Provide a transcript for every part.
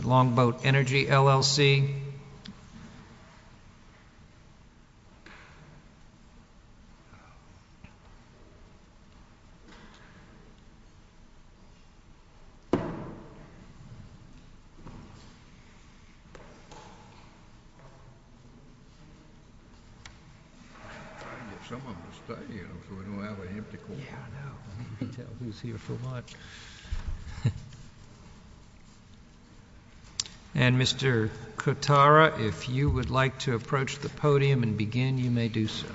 Longboat Energy, LLC And Mr. Kotara, if you would like to approach the podium and begin, you may do so.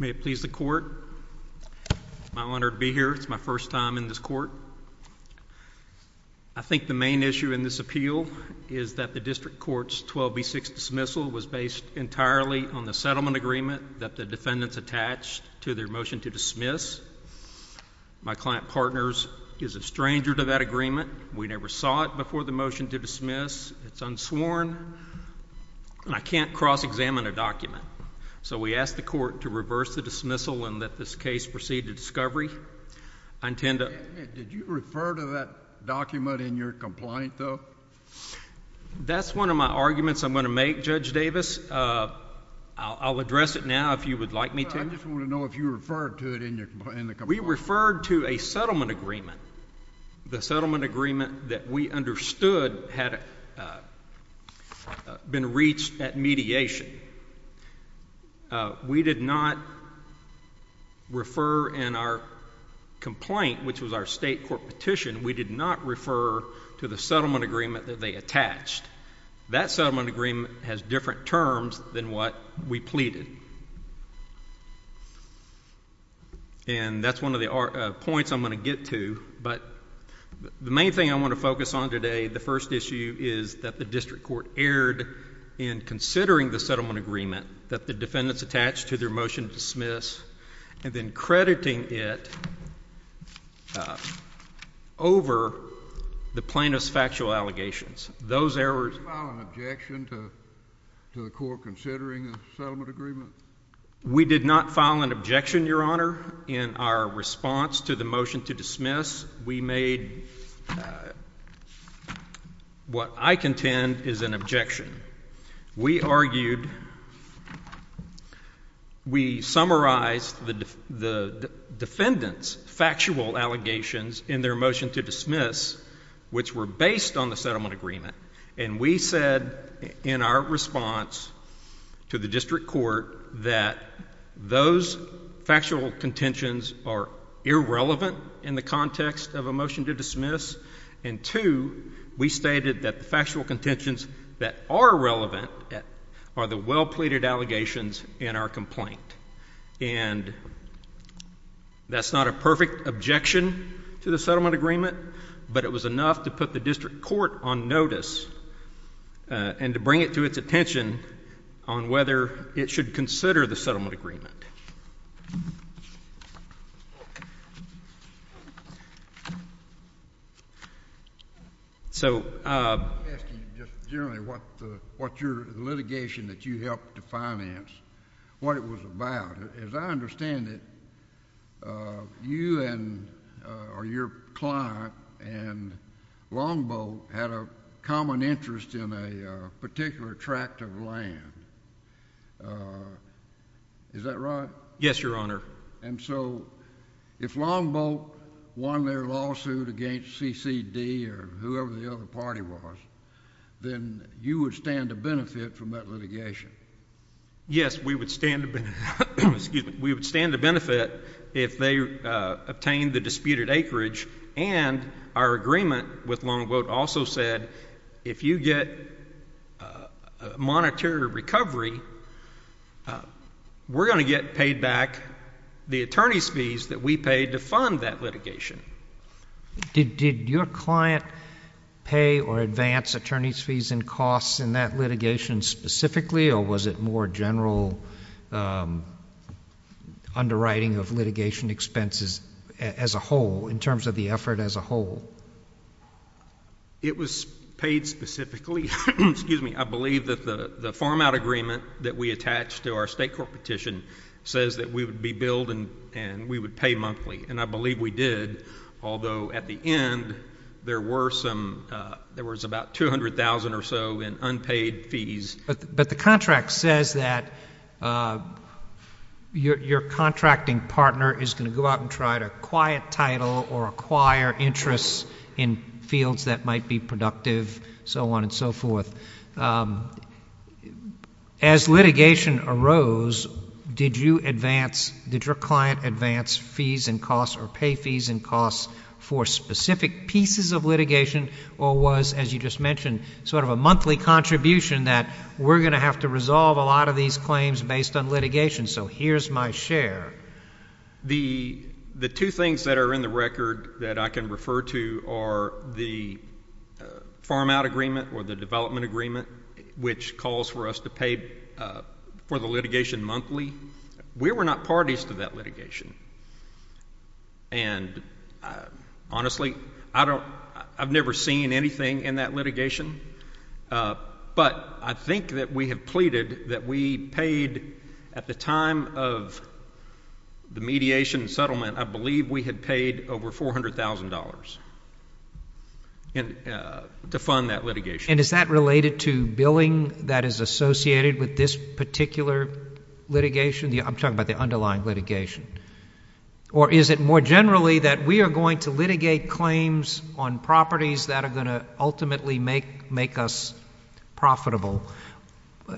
May it please the court, it's my honor to be here. It's my first time in this court. I think the main issue in this appeal is that the district court's 12B6 dismissal was based entirely on the settlement agreement that the defendants attached to their motion to dismiss. My client partners is a stranger to that agreement. We never saw it before the motion to dismiss. It's unsworn. And I can't cross-examine a document. So we ask the court to reverse the dismissal and let this case proceed to discovery. Did you refer to that document in your complaint, though? That's one of my arguments I'm going to make, Judge Davis. I'll address it now if you would like me to. I just want to know if you referred to it in the complaint. We referred to a settlement agreement. The settlement agreement that we understood had been reached at mediation. We did not refer in our complaint, which was our state court petition, we did not refer to the settlement agreement that they attached. That settlement agreement has different terms than what we pleaded. And that's one of the points I'm going to get to. But the main thing I want to focus on today, the first issue, is that the district court erred in considering the settlement agreement that the defendants attached to their motion to dismiss and then crediting it over the plaintiff's factual allegations. Those errors— Did you file an objection to the court considering the settlement agreement? We did not file an objection, Your Honor. In our response to the motion to dismiss, we made what I contend is an objection. We argued—we summarized the defendants' factual allegations in their motion to dismiss, which were based on the settlement agreement. And we said in our response to the district court that those factual contentions are irrelevant in the context of a motion to dismiss. And two, we stated that the factual contentions that are relevant are the well-pleaded allegations in our complaint. And that's not a perfect objection to the settlement agreement, but it was enough to put the district court on notice and to bring it to its attention on whether it should consider the settlement agreement. So— Let me ask you just generally what your litigation that you helped to finance, what it was about. As I understand it, you and—or your client and Longboat had a common interest in a particular tract of land. Is that right? Yes, Your Honor. And so if Longboat won their lawsuit against CCD or whoever the other party was, then you would stand to benefit from that litigation? Yes, we would stand to benefit if they obtained the disputed acreage. And our agreement with Longboat also said if you get a monetary recovery, we're going to get paid back the attorney's fees that we paid to fund that litigation. Did your client pay or advance attorney's fees and costs in that litigation specifically, or was it more general underwriting of litigation expenses as a whole, in terms of the effort as a whole? It was paid specifically. Excuse me. I believe that the farm-out agreement that we attached to our state court petition says that we would be billed and we would pay monthly. And I believe we did, although at the end there were some—there was about $200,000 or so in unpaid fees. But the contract says that your contracting partner is going to go out and try to acquire title or acquire interests in fields that might be productive, so on and so forth. As litigation arose, did you advance—did your client advance fees and costs or pay fees and costs for specific pieces of litigation, or was, as you just mentioned, sort of a monthly contribution that we're going to have to resolve a lot of these claims based on litigation? So here's my share. The two things that are in the record that I can refer to are the farm-out agreement or the development agreement, which calls for us to pay for the litigation monthly. We were not parties to that litigation, and honestly, I don't—I've never seen anything in that litigation. But I think that we have pleaded that we paid at the time of the mediation and settlement, I believe we had paid over $400,000 to fund that litigation. And is that related to billing that is associated with this particular litigation? I'm talking about the underlying litigation. Or is it more generally that we are going to litigate claims on properties that are going to ultimately make us profitable?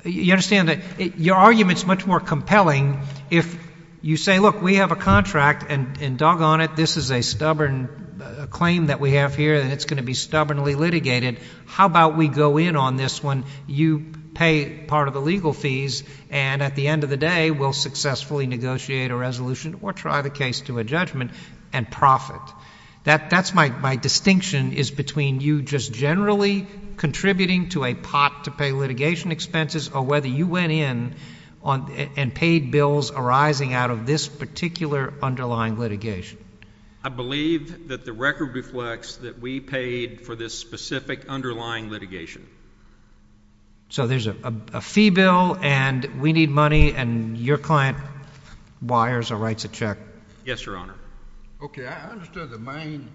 You understand that your argument is much more compelling if you say, look, we have a contract, and doggone it, this is a stubborn claim that we have here, and it's going to be stubbornly litigated. How about we go in on this one, you pay part of the legal fees, and at the end of the day, we'll successfully negotiate a resolution or try the case to a judgment and profit. That's my distinction is between you just generally contributing to a pot to pay litigation expenses or whether you went in and paid bills arising out of this particular underlying litigation. I believe that the record reflects that we paid for this specific underlying litigation. So there's a fee bill, and we need money, and your client wires or writes a check. Yes, Your Honor. Okay. I understood the main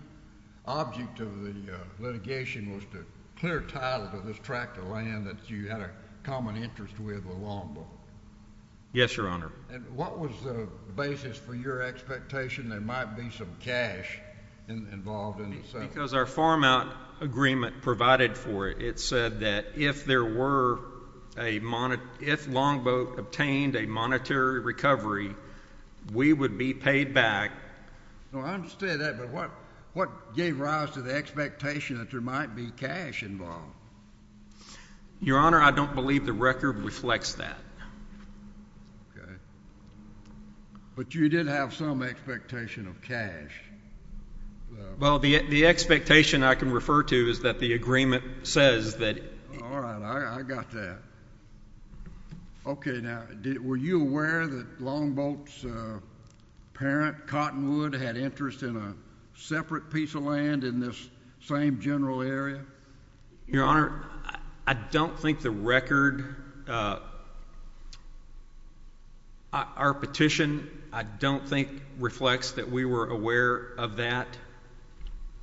object of the litigation was to clear title to this tract of land that you had a common interest with along the way. Yes, Your Honor. And what was the basis for your expectation there might be some cash involved in the settlement? Because our farm out agreement provided for it. It said that if Longboat obtained a monetary recovery, we would be paid back. I understand that, but what gave rise to the expectation that there might be cash involved? Your Honor, I don't believe the record reflects that. Okay. But you did have some expectation of cash. Well, the expectation I can refer to is that the agreement says that. All right. I got that. Okay. Now, were you aware that Longboat's parent, Cottonwood, had interest in a separate piece of land in this same general area? Your Honor, I don't think the record, our petition, I don't think reflects that we were aware of that.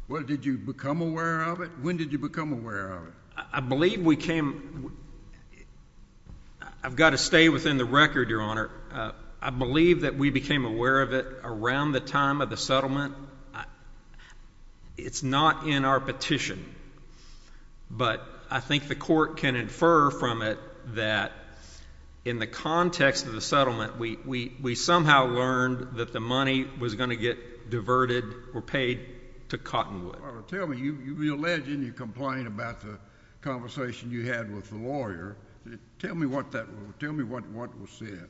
Well, did you become aware of it? When did you become aware of it? I believe we came, I've got to stay within the record, Your Honor. I believe that we became aware of it around the time of the settlement. It's not in our petition, but I think the court can infer from it that in the context of the settlement, we somehow learned that the money was going to get diverted or paid to Cottonwood. Tell me, you alleged and you complained about the conversation you had with the lawyer. Tell me what that was, tell me what was said.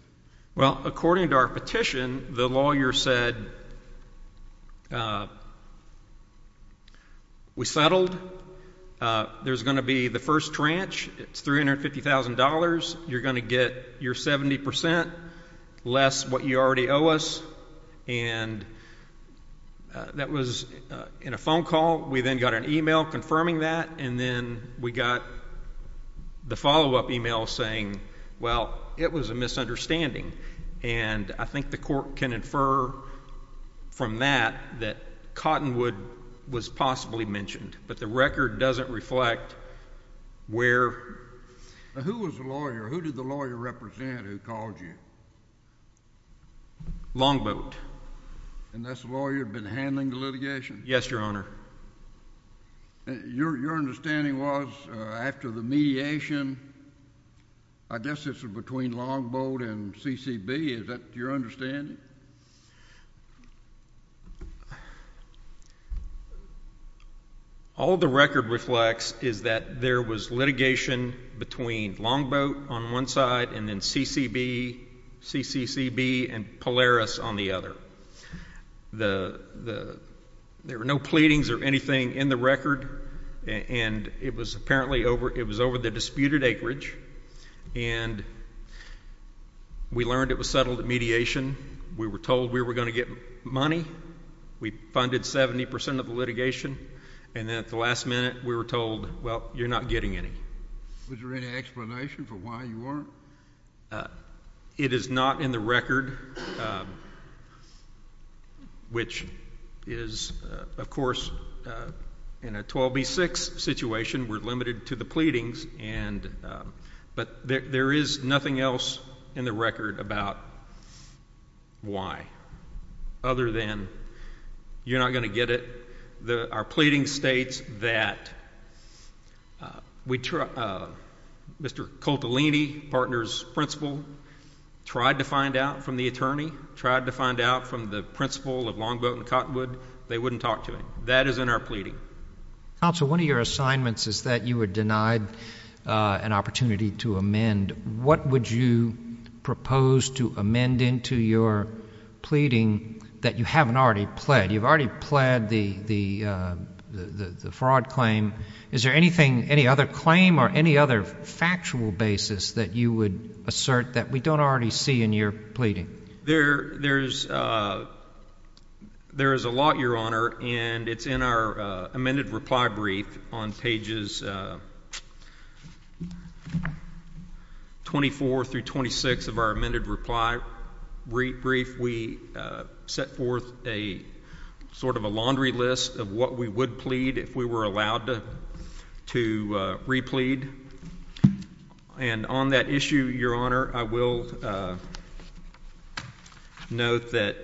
Well, according to our petition, the lawyer said, we settled. There's going to be the first tranche. It's $350,000. You're going to get your 70 percent less what you already owe us, and that was in a phone call. We then got an email confirming that, and then we got the follow-up email saying, well, it was a misunderstanding. And I think the court can infer from that that Cottonwood was possibly mentioned, but the record doesn't reflect where. Who was the lawyer? Who did the lawyer represent who called you? Longboat. Yes, Your Honor. Your understanding was after the mediation, I guess this was between Longboat and CCB. Is that your understanding? All the record reflects is that there was litigation between Longboat on one side and then CCB and Polaris on the other. There were no pleadings or anything in the record, and it was apparently over the disputed acreage, and we learned it was settled at mediation. We were told we were going to get money. We funded 70 percent of the litigation, and then at the last minute we were told, well, you're not getting any. Was there any explanation for why you weren't? It is not in the record, which is, of course, in a 12B6 situation we're limited to the pleadings, but there is nothing else in the record about why other than you're not going to get it. Our pleading states that Mr. Coltolini, partner's principal, tried to find out from the attorney, tried to find out from the principal of Longboat and Cottonwood. They wouldn't talk to him. That is in our pleading. Counsel, one of your assignments is that you were denied an opportunity to amend. What would you propose to amend into your pleading that you haven't already pled? You've already pled the fraud claim. Is there anything, any other claim or any other factual basis that you would assert that we don't already see in your pleading? There is a lot, Your Honor, and it's in our amended reply brief on pages 24 through 26 of our amended reply brief. We set forth a sort of a laundry list of what we would plead if we were allowed to replead, and on that issue, Your Honor, I will note that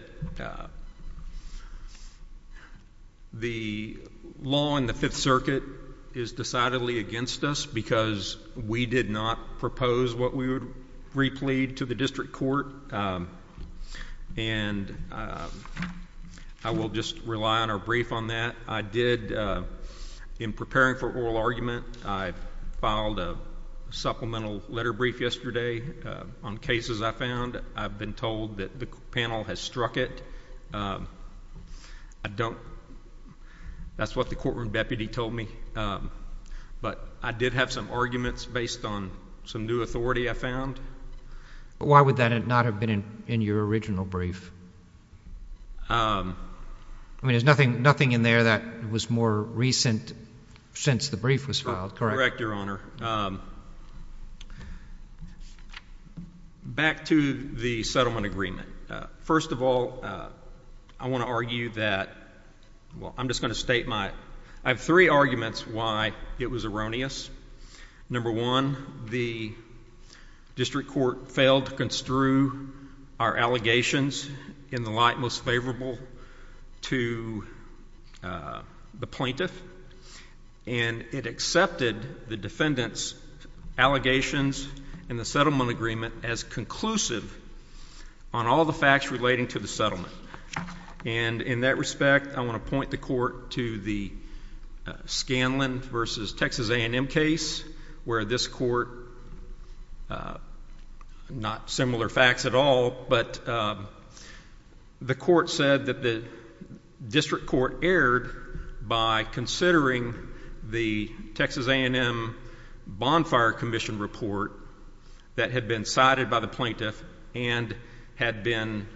the law in the Fifth Circuit is decidedly against us because we did not propose what we would replead to the district court, and I will just rely on our brief on that. I did, in preparing for oral argument, I filed a supplemental letter brief yesterday on cases I found. I've been told that the panel has struck it. I don't. That's what the courtroom deputy told me, but I did have some arguments based on some new authority I found. Why would that not have been in your original brief? I mean, there's nothing in there that was more recent since the brief was filed, correct? Correct, Your Honor. Back to the settlement agreement. First of all, I want to argue that, well, I'm just going to state my, I have three arguments why it was erroneous. Number one, the district court failed to construe our allegations in the light most favorable to the plaintiff, and it accepted the defendant's allegations in the settlement agreement as conclusive on all the facts relating to the settlement. And in that respect, I want to point the court to the Scanlon v. Texas A&M case where this court, not similar facts at all, but the court said that the district court erred by considering the Texas A&M bonfire commission report that had been cited by the plaintiff and had been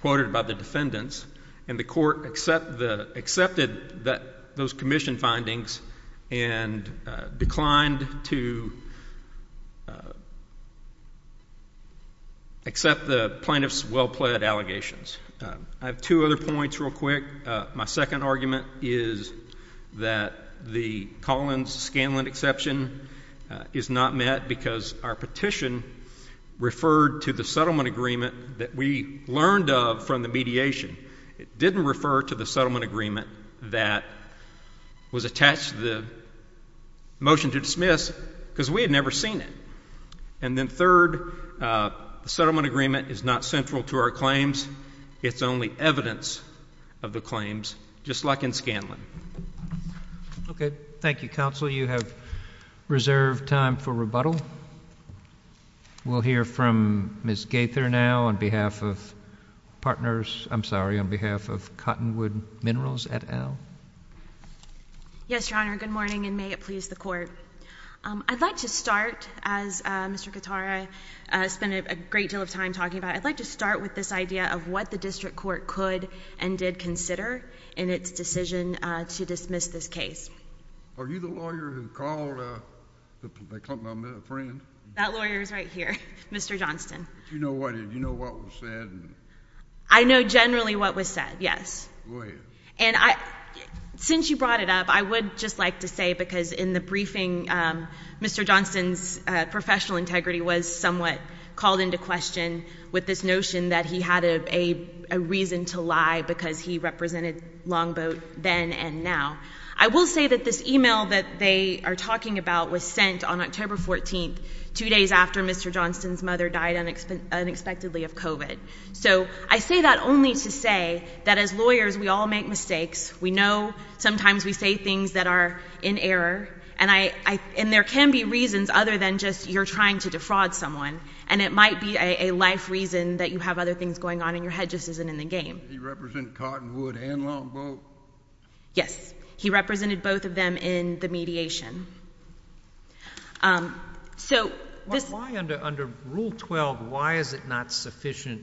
quoted by the defendants, and the court accepted those commission findings and declined to accept the plaintiff's well-pled allegations. I have two other points real quick. My second argument is that the Collins-Scanlon exception is not met because our petition referred to the settlement agreement that we learned of from the mediation. It didn't refer to the settlement agreement that was attached to the motion to dismiss because we had never seen it. And then third, the settlement agreement is not central to our claims. It's only evidence of the claims, just like in Scanlon. Okay. Thank you, counsel. You have reserved time for rebuttal. We'll hear from Ms. Gaither now on behalf of partners. I'm sorry, on behalf of Cottonwood Minerals et al. Yes, Your Honor. Good morning, and may it please the court. I'd like to start, as Mr. Katara spent a great deal of time talking about, I'd like to start with this idea of what the district court could and did consider in its decision to dismiss this case. Are you the lawyer who called my friend? That lawyer is right here, Mr. Johnston. Do you know what was said? I know generally what was said, yes. Go ahead. Since you brought it up, I would just like to say, because in the briefing, Mr. Johnston's professional integrity was somewhat called into question with this notion that he had a reason to lie because he represented Longboat then and now. I will say that this email that they are talking about was sent on October 14th, two days after Mr. Johnston's mother died unexpectedly of COVID. So I say that only to say that as lawyers, we all make mistakes. We know sometimes we say things that are in error, and there can be reasons other than just you're trying to defraud someone, and it might be a life reason that you have other things going on in your head just isn't in the game. He represented Cottonwood and Longboat? Yes. He represented both of them in the mediation. So this ---- Why under Rule 12, why is it not sufficient?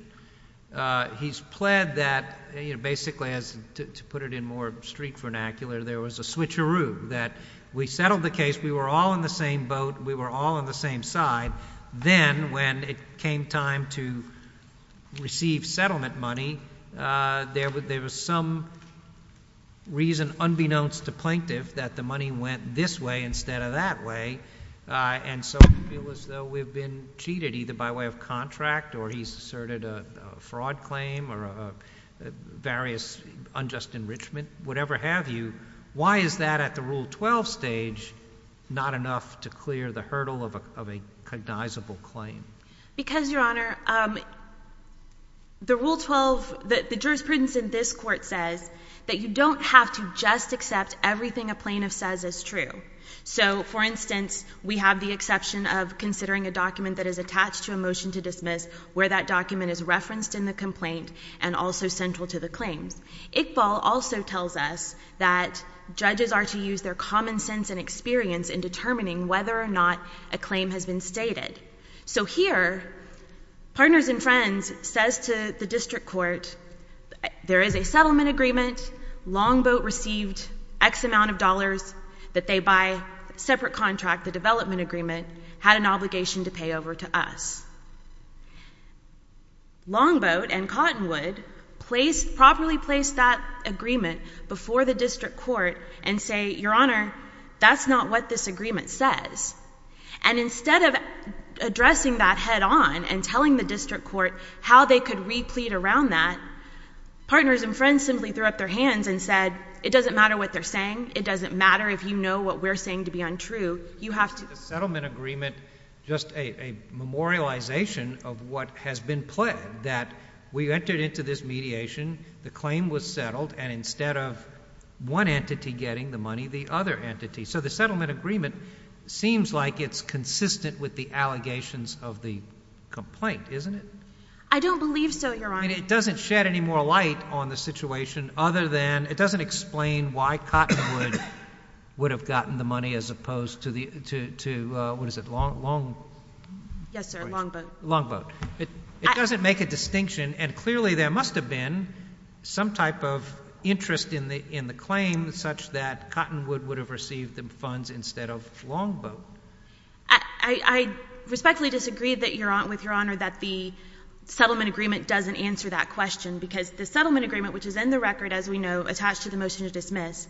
He's pled that basically, to put it in more street vernacular, there was a switcheroo, that we settled the case, we were all in the same boat, we were all on the same side. Then when it came time to receive settlement money, there was some reason unbeknownst to Plaintiff that the money went this way instead of that way, and so it was as though we had been cheated either by way of contract or he's asserted a fraud claim or various unjust enrichment, whatever have you. Why is that at the Rule 12 stage not enough to clear the hurdle of a cognizable claim? Because, Your Honor, the Rule 12, the jurisprudence in this Court says that you don't have to just accept everything a plaintiff says is true. So, for instance, we have the exception of considering a document that is attached to a motion to dismiss where that document is referenced in the complaint and also central to the claims. Iqbal also tells us that judges are to use their common sense and experience in determining whether or not a claim has been stated. So here, Partners and Friends says to the District Court, there is a settlement agreement, Longboat received X amount of dollars that they buy, separate contract, the development agreement, had an obligation to pay over to us. Longboat and Cottonwood properly placed that agreement before the District Court and say, Your Honor, that's not what this agreement says. And instead of addressing that head-on and telling the District Court how they could replete around that, Partners and Friends simply threw up their hands and said, it doesn't matter what they're saying, it doesn't matter if you know what we're saying to be untrue, The settlement agreement, just a memorialization of what has been pledged, that we entered into this mediation, the claim was settled, and instead of one entity getting the money, the other entity. So the settlement agreement seems like it's consistent with the allegations of the complaint, isn't it? I don't believe so, Your Honor. I mean, it doesn't shed any more light on the situation other than, it doesn't explain why Cottonwood would have gotten the money as opposed to, what is it, Longboat. Yes, sir, Longboat. Longboat. It doesn't make a distinction, and clearly there must have been some type of interest in the claim such that Cottonwood would have received the funds instead of Longboat. I respectfully disagree with Your Honor that the settlement agreement doesn't answer that question because the settlement agreement, which is in the record, as we know, attached to the motion to dismiss,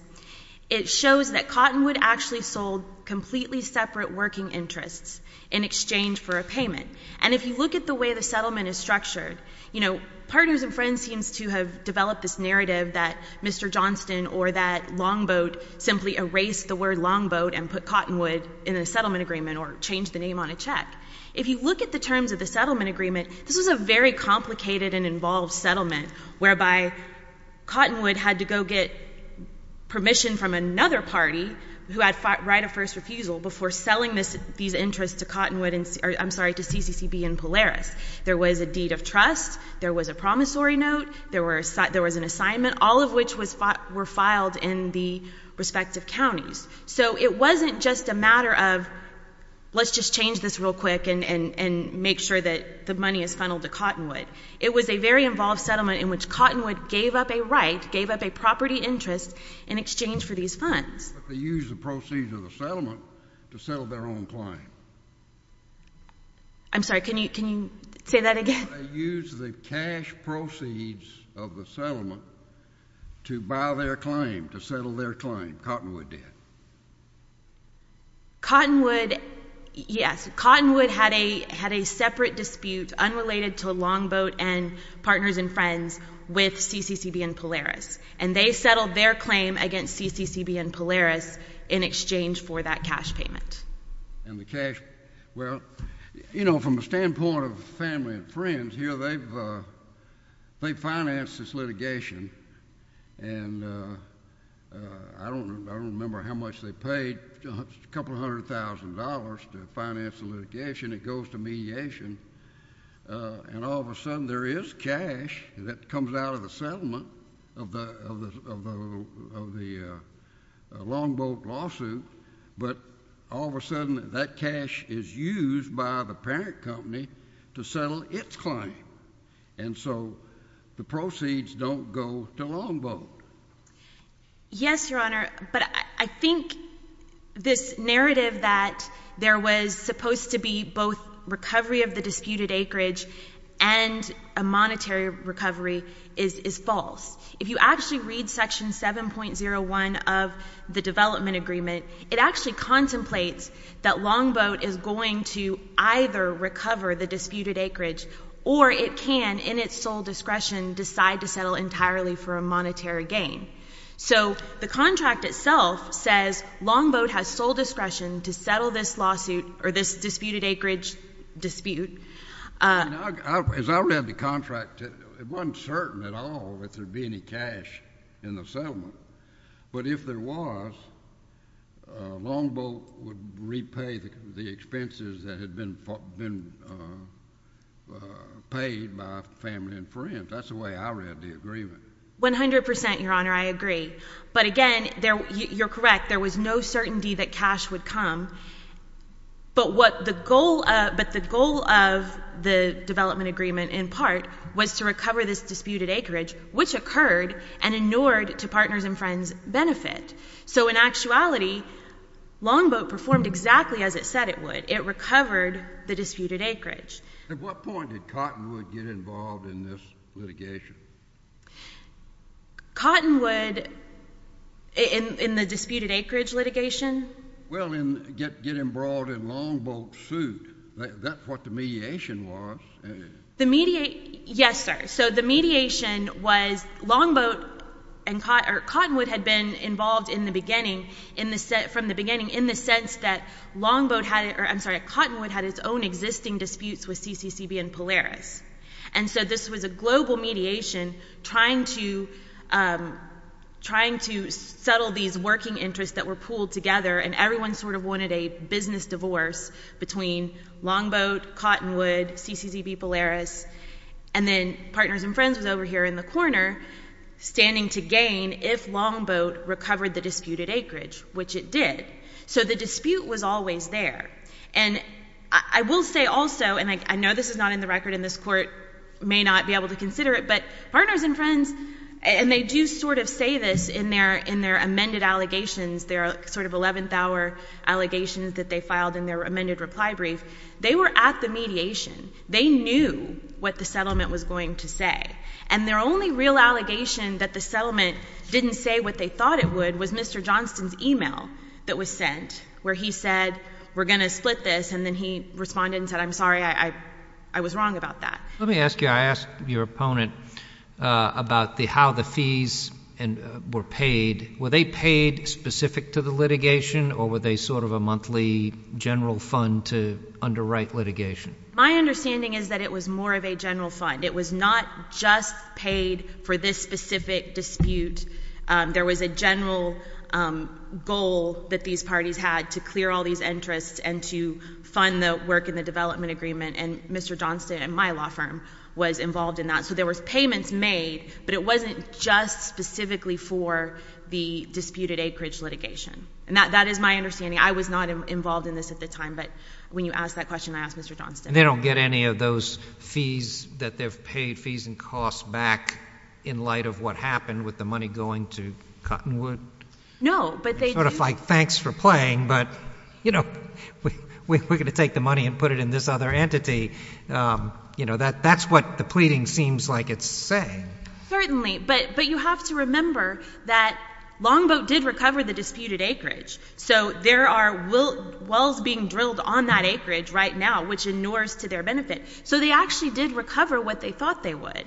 it shows that Cottonwood actually sold completely separate working interests in exchange for a payment. And if you look at the way the settlement is structured, you know, partners and friends seem to have developed this narrative that Mr. Johnston or that Longboat simply erased the word Longboat and put Cottonwood in the settlement agreement or changed the name on a check. If you look at the terms of the settlement agreement, this was a very complicated and involved settlement whereby Cottonwood had to go get permission from another party who had right of first refusal before selling these interests to CCCB and Polaris. There was a deed of trust. There was a promissory note. There was an assignment, all of which were filed in the respective counties. So it wasn't just a matter of let's just change this real quick and make sure that the money is funneled to Cottonwood. It was a very involved settlement in which Cottonwood gave up a right, gave up a property interest in exchange for these funds. But they used the proceeds of the settlement to settle their own claim. I'm sorry. Can you say that again? They used the cash proceeds of the settlement to buy their claim, to settle their claim. Cottonwood did. Cottonwood, yes. Cottonwood had a separate dispute unrelated to Longboat and partners and friends with CCCB and Polaris, and they settled their claim against CCCB and Polaris in exchange for that cash payment. Yes. And the cash. Well, you know, from the standpoint of family and friends here, they've financed this litigation, and I don't remember how much they paid, a couple hundred thousand dollars to finance the litigation. It goes to mediation. And all of a sudden there is cash that comes out of the settlement of the Longboat lawsuit, but all of a sudden that cash is used by the parent company to settle its claim, and so the proceeds don't go to Longboat. Yes, Your Honor, but I think this narrative that there was supposed to be both recovery of the disputed acreage and a monetary recovery is false. If you actually read section 7.01 of the development agreement, it actually contemplates that Longboat is going to either recover the disputed acreage or it can, in its sole discretion, decide to settle entirely for a monetary gain. So the contract itself says Longboat has sole discretion to settle this lawsuit or this disputed acreage dispute. As I read the contract, it wasn't certain at all that there would be any cash in the settlement. But if there was, Longboat would repay the expenses that had been paid by family and friends. That's the way I read the agreement. One hundred percent, Your Honor, I agree. But again, you're correct. There was no certainty that cash would come. But the goal of the development agreement in part was to recover this disputed acreage, which occurred and inured to partners and friends' benefit. So in actuality, Longboat performed exactly as it said it would. It recovered the disputed acreage. At what point did Cottonwood get involved in this litigation? Cottonwood in the disputed acreage litigation? Well, in getting brought in Longboat's suit, that's what the mediation was. Yes, sir. So the mediation was Longboat and Cottonwood had been involved from the beginning in the sense that Longboat had it or, I'm sorry, Cottonwood had its own existing disputes with CCCB and Polaris. And so this was a global mediation trying to settle these working interests that were pooled together, and everyone sort of wanted a business divorce between Longboat, Cottonwood, CCCB, Polaris, and then partners and friends was over here in the corner standing to gain if Longboat recovered the disputed acreage, which it did. So the dispute was always there. And I will say also, and I know this is not in the record and this Court may not be able to consider it, but partners and friends, and they do sort of say this in their amended allegations, their sort of 11th hour allegations that they filed in their amended reply brief. They were at the mediation. They knew what the settlement was going to say. And their only real allegation that the settlement didn't say what they thought it would was Mr. Johnston's email that was sent, where he said, we're going to split this, and then he responded and said, I'm sorry, I was wrong about that. Let me ask you, I asked your opponent about how the fees were paid. Were they paid specific to the litigation, or were they sort of a monthly general fund to underwrite litigation? My understanding is that it was more of a general fund. It was not just paid for this specific dispute. There was a general goal that these parties had to clear all these interests and to fund the work in the development agreement, and Mr. Johnston and my law firm was involved in that. So there was payments made, but it wasn't just specifically for the disputed acreage litigation. And that is my understanding. I was not involved in this at the time, but when you asked that question, I asked Mr. Johnston. And they don't get any of those fees that they've paid, fees and costs, back in light of what happened with the money going to Cottonwood? No, but they do. Sort of like, thanks for playing, but, you know, we're going to take the money and put it in this other entity. You know, that's what the pleading seems like it's saying. Certainly, but you have to remember that Longboat did recover the disputed acreage. So there are wells being drilled on that acreage right now, which inures to their benefit. So they actually did recover what they thought they would.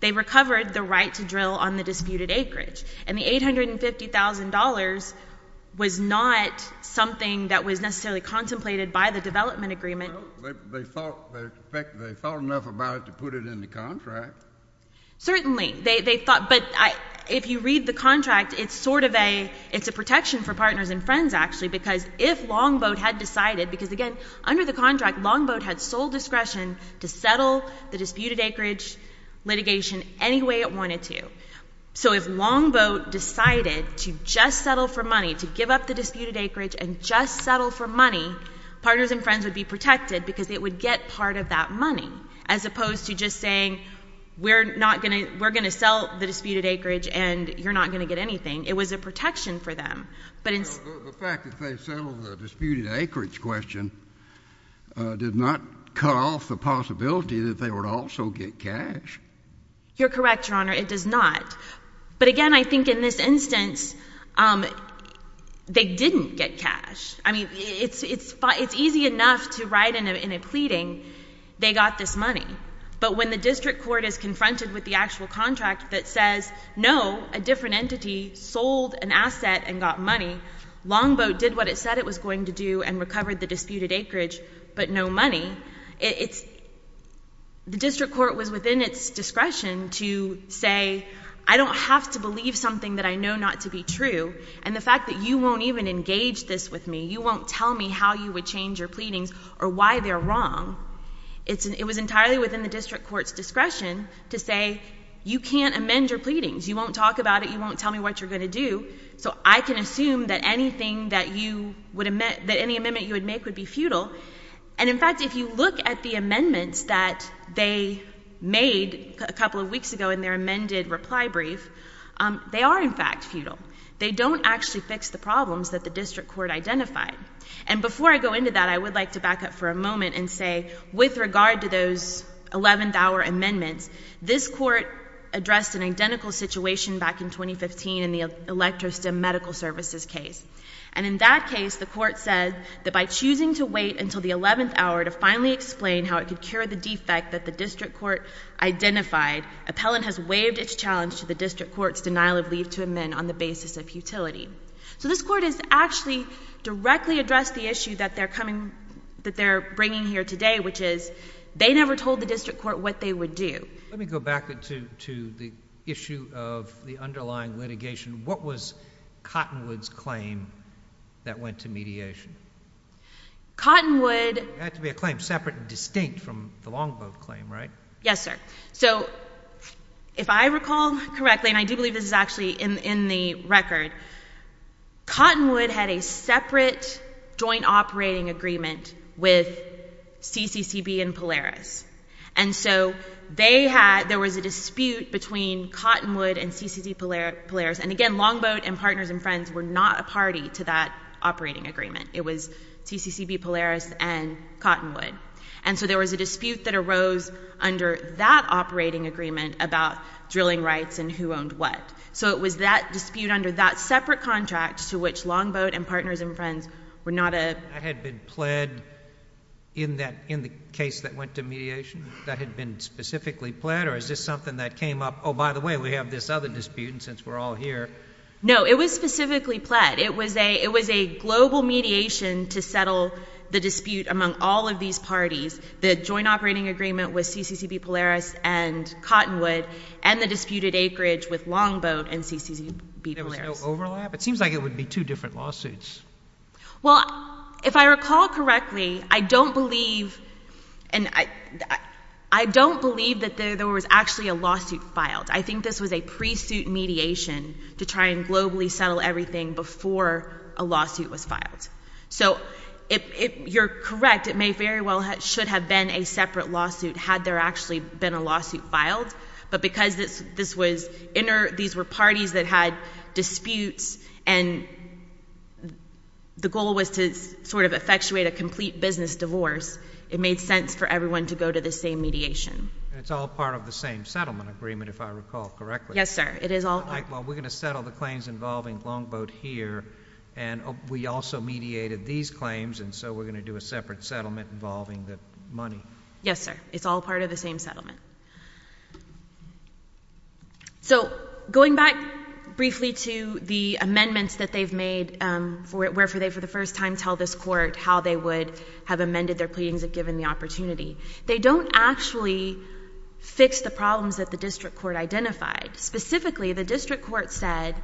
They recovered the right to drill on the disputed acreage. And the $850,000 was not something that was necessarily contemplated by the development agreement. Well, they thought enough about it to put it in the contract. Certainly. But if you read the contract, it's sort of a protection for partners and friends, actually, because if Longboat had decided, because, again, under the contract, Longboat had sole discretion to settle the disputed acreage litigation any way it wanted to. So if Longboat decided to just settle for money, to give up the disputed acreage and just settle for money, partners and friends would be protected because they would get part of that money, as opposed to just saying we're going to sell the disputed acreage and you're not going to get anything. It was a protection for them. The fact that they settled the disputed acreage question did not cut off the possibility that they would also get cash. You're correct, Your Honor. It does not. But, again, I think in this instance they didn't get cash. I mean, it's easy enough to write in a pleading they got this money. But when the district court is confronted with the actual contract that says, no, a different entity sold an asset and got money, Longboat did what it said it was going to do and recovered the disputed acreage, but no money, the district court was within its discretion to say I don't have to believe something that I know not to be true, and the fact that you won't even engage this with me, you won't tell me how you would change your pleadings or why they're wrong, it was entirely within the district court's discretion to say you can't amend your pleadings. You won't talk about it. You won't tell me what you're going to do. So I can assume that any amendment you would make would be futile. And, in fact, if you look at the amendments that they made a couple of weeks ago in their amended reply brief, they are, in fact, futile. They don't actually fix the problems that the district court identified. And before I go into that, I would like to back up for a moment and say with regard to those 11th hour amendments, this court addressed an identical situation back in 2015 in the Electro Stem Medical Services case. And in that case, the court said that by choosing to wait until the 11th hour to finally explain how it could cure the defect that the district court identified, appellant has waived its challenge to the district court's denial of leave to amend on the basis of futility. So this court has actually directly addressed the issue that they're bringing here today, which is they never told the district court what they would do. Let me go back to the issue of the underlying litigation. What was Cottonwood's claim that went to mediation? Cottonwood— It had to be a claim separate and distinct from the Longboat claim, right? Yes, sir. So if I recall correctly, and I do believe this is actually in the record, Cottonwood had a separate joint operating agreement with CCCB and Polaris. And so they had—there was a dispute between Cottonwood and CCCB-Polaris. And again, Longboat and partners and friends were not a party to that operating agreement. It was CCCB-Polaris and Cottonwood. And so there was a dispute that arose under that operating agreement about drilling rights and who owned what. So it was that dispute under that separate contract to which Longboat and partners and friends were not a— That had been pled in the case that went to mediation? That had been specifically pled, or is this something that came up—oh, by the way, we have this other dispute, and since we're all here— No, it was specifically pled. It was a global mediation to settle the dispute among all of these parties. The joint operating agreement was CCCB-Polaris and Cottonwood, and the disputed acreage was Longboat and CCCB-Polaris. There was no overlap? It seems like it would be two different lawsuits. Well, if I recall correctly, I don't believe that there was actually a lawsuit filed. I think this was a pre-suit mediation to try and globally settle everything before a lawsuit was filed. So if you're correct, it may very well have—should have been a separate lawsuit had there actually been a lawsuit filed. But because this was—these were parties that had disputes and the goal was to sort of effectuate a complete business divorce, it made sense for everyone to go to the same mediation. And it's all part of the same settlement agreement, if I recall correctly. Yes, sir. It is all— Well, we're going to settle the claims involving Longboat here, and we also mediated these claims, and so we're going to do a separate settlement involving the money. Yes, sir. It's all part of the same settlement. So going back briefly to the amendments that they've made, where they, for the first time, tell this Court how they would have amended their pleadings if given the opportunity, they don't actually fix the problems that the district court identified. Specifically, the district court said,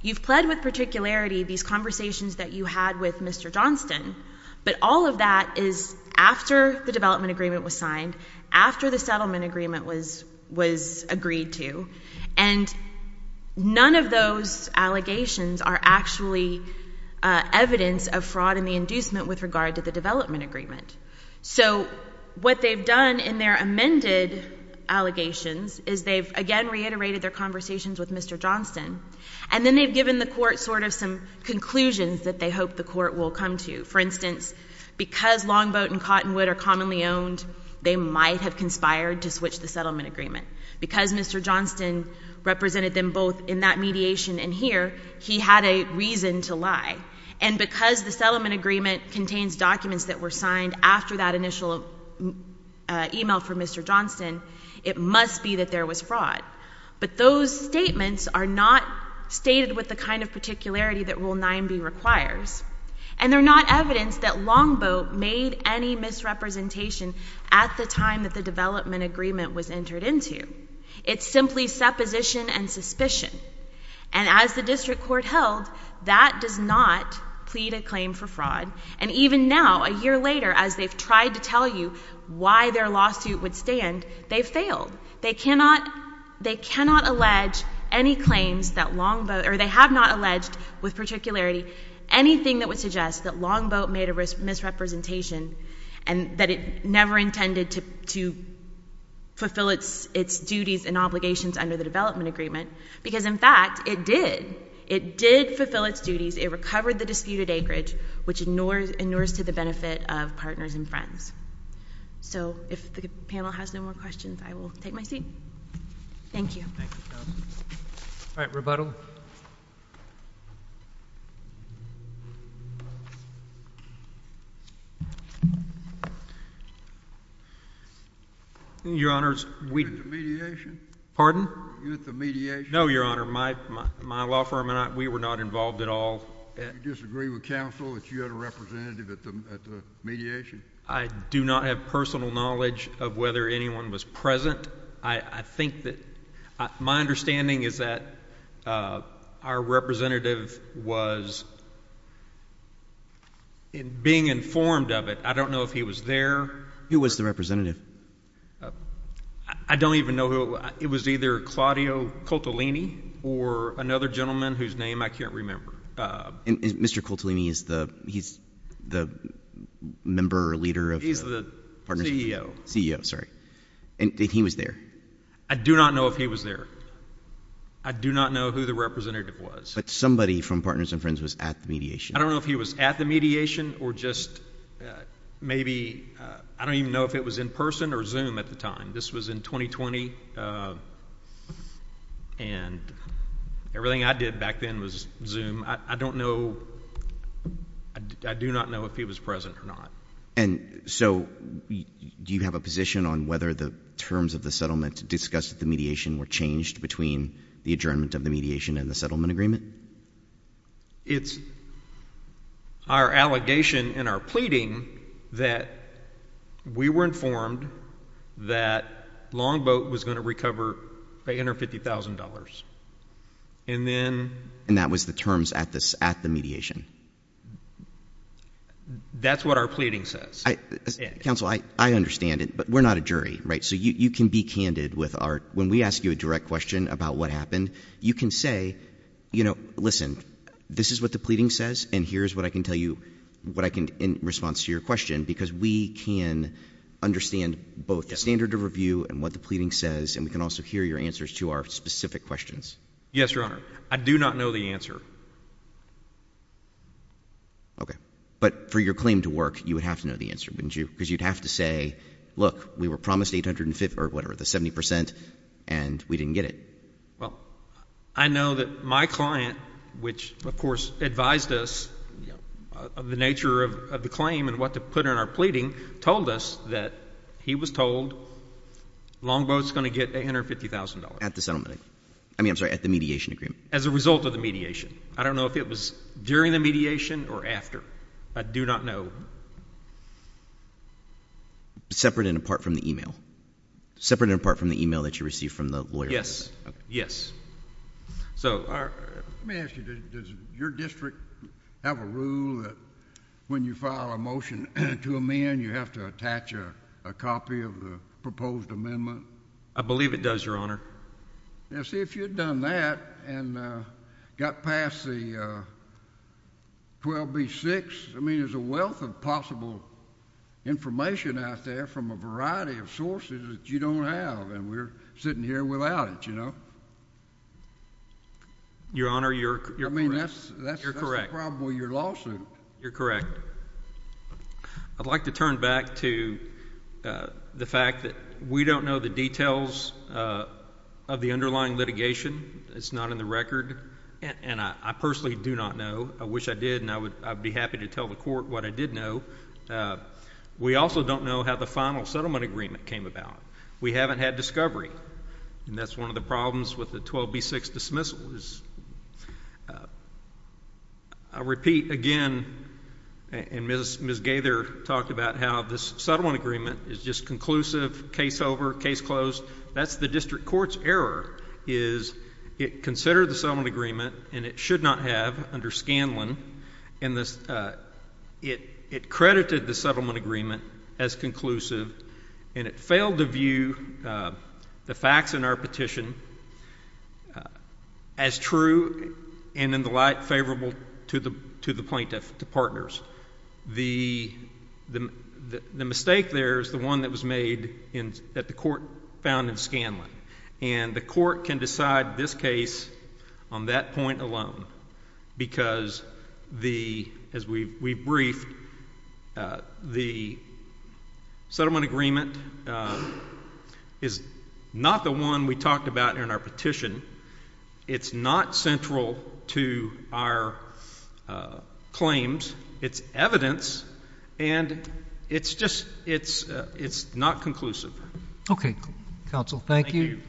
you've pled with particularity these conversations that you had with Mr. Johnston, but all of that is after the development agreement was signed, after the settlement agreement was agreed to, and none of those allegations are actually evidence of fraud and the inducement with regard to the development agreement. So what they've done in their amended allegations is they've, again, reiterated their conversations with Mr. Johnston, and then they've given the Court sort of some conclusions that they hope the Court will come to. For instance, because Longboat and Cottonwood are commonly owned, they might have conspired to switch the settlement agreement. Because Mr. Johnston represented them both in that mediation and here, he had a reason to lie. And because the settlement agreement contains documents that were signed after that initial email from Mr. Johnston, it must be that there was fraud. But those statements are not stated with the kind of particularity that Rule 9b requires, and they're not evidence that Longboat made any misrepresentation at the time that the development agreement was entered into. It's simply supposition and suspicion. And as the District Court held, that does not plead a claim for fraud. And even now, a year later, as they've tried to tell you why their lawsuit would stand, they've failed. They cannot allege any claims that Longboat, or they have not alleged with particularity anything that would suggest that Longboat made a misrepresentation and that it never intended to fulfill its duties and obligations under the development agreement. Because, in fact, it did. It did fulfill its duties. It recovered the disputed acreage, which inures to the benefit of partners and friends. So if the panel has no more questions, I will take my seat. Thank you. All right, rebuttal. Your Honors, we— You at the mediation? Pardon? You at the mediation? No, Your Honor. My law firm and I, we were not involved at all. Do you disagree with counsel that you had a representative at the mediation? I do not have personal knowledge of whether anyone was present. I think that—my understanding is that our representative was being informed of it. I don't know if he was there. Who was the representative? I don't even know who it was. It was either Claudio Coltolini or another gentleman whose name I can't remember. And Mr. Coltolini, he's the member or leader of— He's the CEO. CEO, sorry. And he was there. I do not know if he was there. I do not know who the representative was. But somebody from partners and friends was at the mediation. I don't know if he was at the mediation or just maybe—I don't even know if it was in person or Zoom at the time. This was in 2020, and everything I did back then was Zoom. I don't know—I do not know if he was present or not. And so do you have a position on whether the terms of the settlement discussed at the mediation were changed between the adjournment of the mediation and the settlement agreement? It's our allegation and our pleading that we were informed that Longboat was going to recover $850,000. And then— And that was the terms at the mediation. That's what our pleading says. Counsel, I understand it, but we're not a jury, right? So you can be candid with our—when we ask you a direct question about what happened, you can say, you know, listen, this is what the pleading says, and here's what I can tell you in response to your question, because we can understand both the standard of review and what the pleading says, and we can also hear your answers to our specific questions. Yes, Your Honor. I do not know the answer. Okay. But for your claim to work, you would have to know the answer, wouldn't you? Because you'd have to say, look, we were promised 850—or whatever, the 70 percent, and we didn't get it. Well, I know that my client, which, of course, advised us of the nature of the claim and what to put in our pleading, told us that he was told Longboat's going to get $850,000. At the settlement. I mean, I'm sorry, at the mediation agreement. As a result of the mediation. I don't know if it was during the mediation or after. I do not know. Separate and apart from the email. Separate and apart from the email that you received from the lawyer. Yes. Okay. Yes. So our— Let me ask you, does your district have a rule that when you file a motion to amend, you have to attach a copy of the proposed amendment? I believe it does, Your Honor. Now, see, if you had done that and got past the 12B-6, I mean, there's a wealth of possible information out there from a variety of sources that you don't have, and we're sitting here without it, you know? Your Honor, you're correct. I mean, that's the problem with your lawsuit. You're correct. I'd like to turn back to the fact that we don't know the details of the underlying litigation. It's not in the record, and I personally do not know. I wish I did, and I'd be happy to tell the court what I did know. We also don't know how the final settlement agreement came about. We haven't had discovery, and that's one of the problems with the 12B-6 dismissal. I'll repeat again, and Ms. Gaither talked about how this settlement agreement is just conclusive, case over, case closed. That's the district court's error is it considered the settlement agreement, and it should not have under Scanlon, and it credited the settlement agreement as conclusive, and it failed to view the facts in our petition as true and in the light favorable to the plaintiff, to partners. The mistake there is the one that was made at the court found in Scanlon, and the court can decide this case on that point alone because, as we briefed, the settlement agreement is not the one we talked about in our petition. It's not central to our claims. It's evidence, and it's just not conclusive. Okay, counsel. Thank you.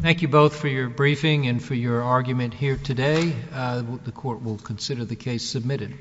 Thank you both for your briefing and for your argument here today. The court will consider the case submitted.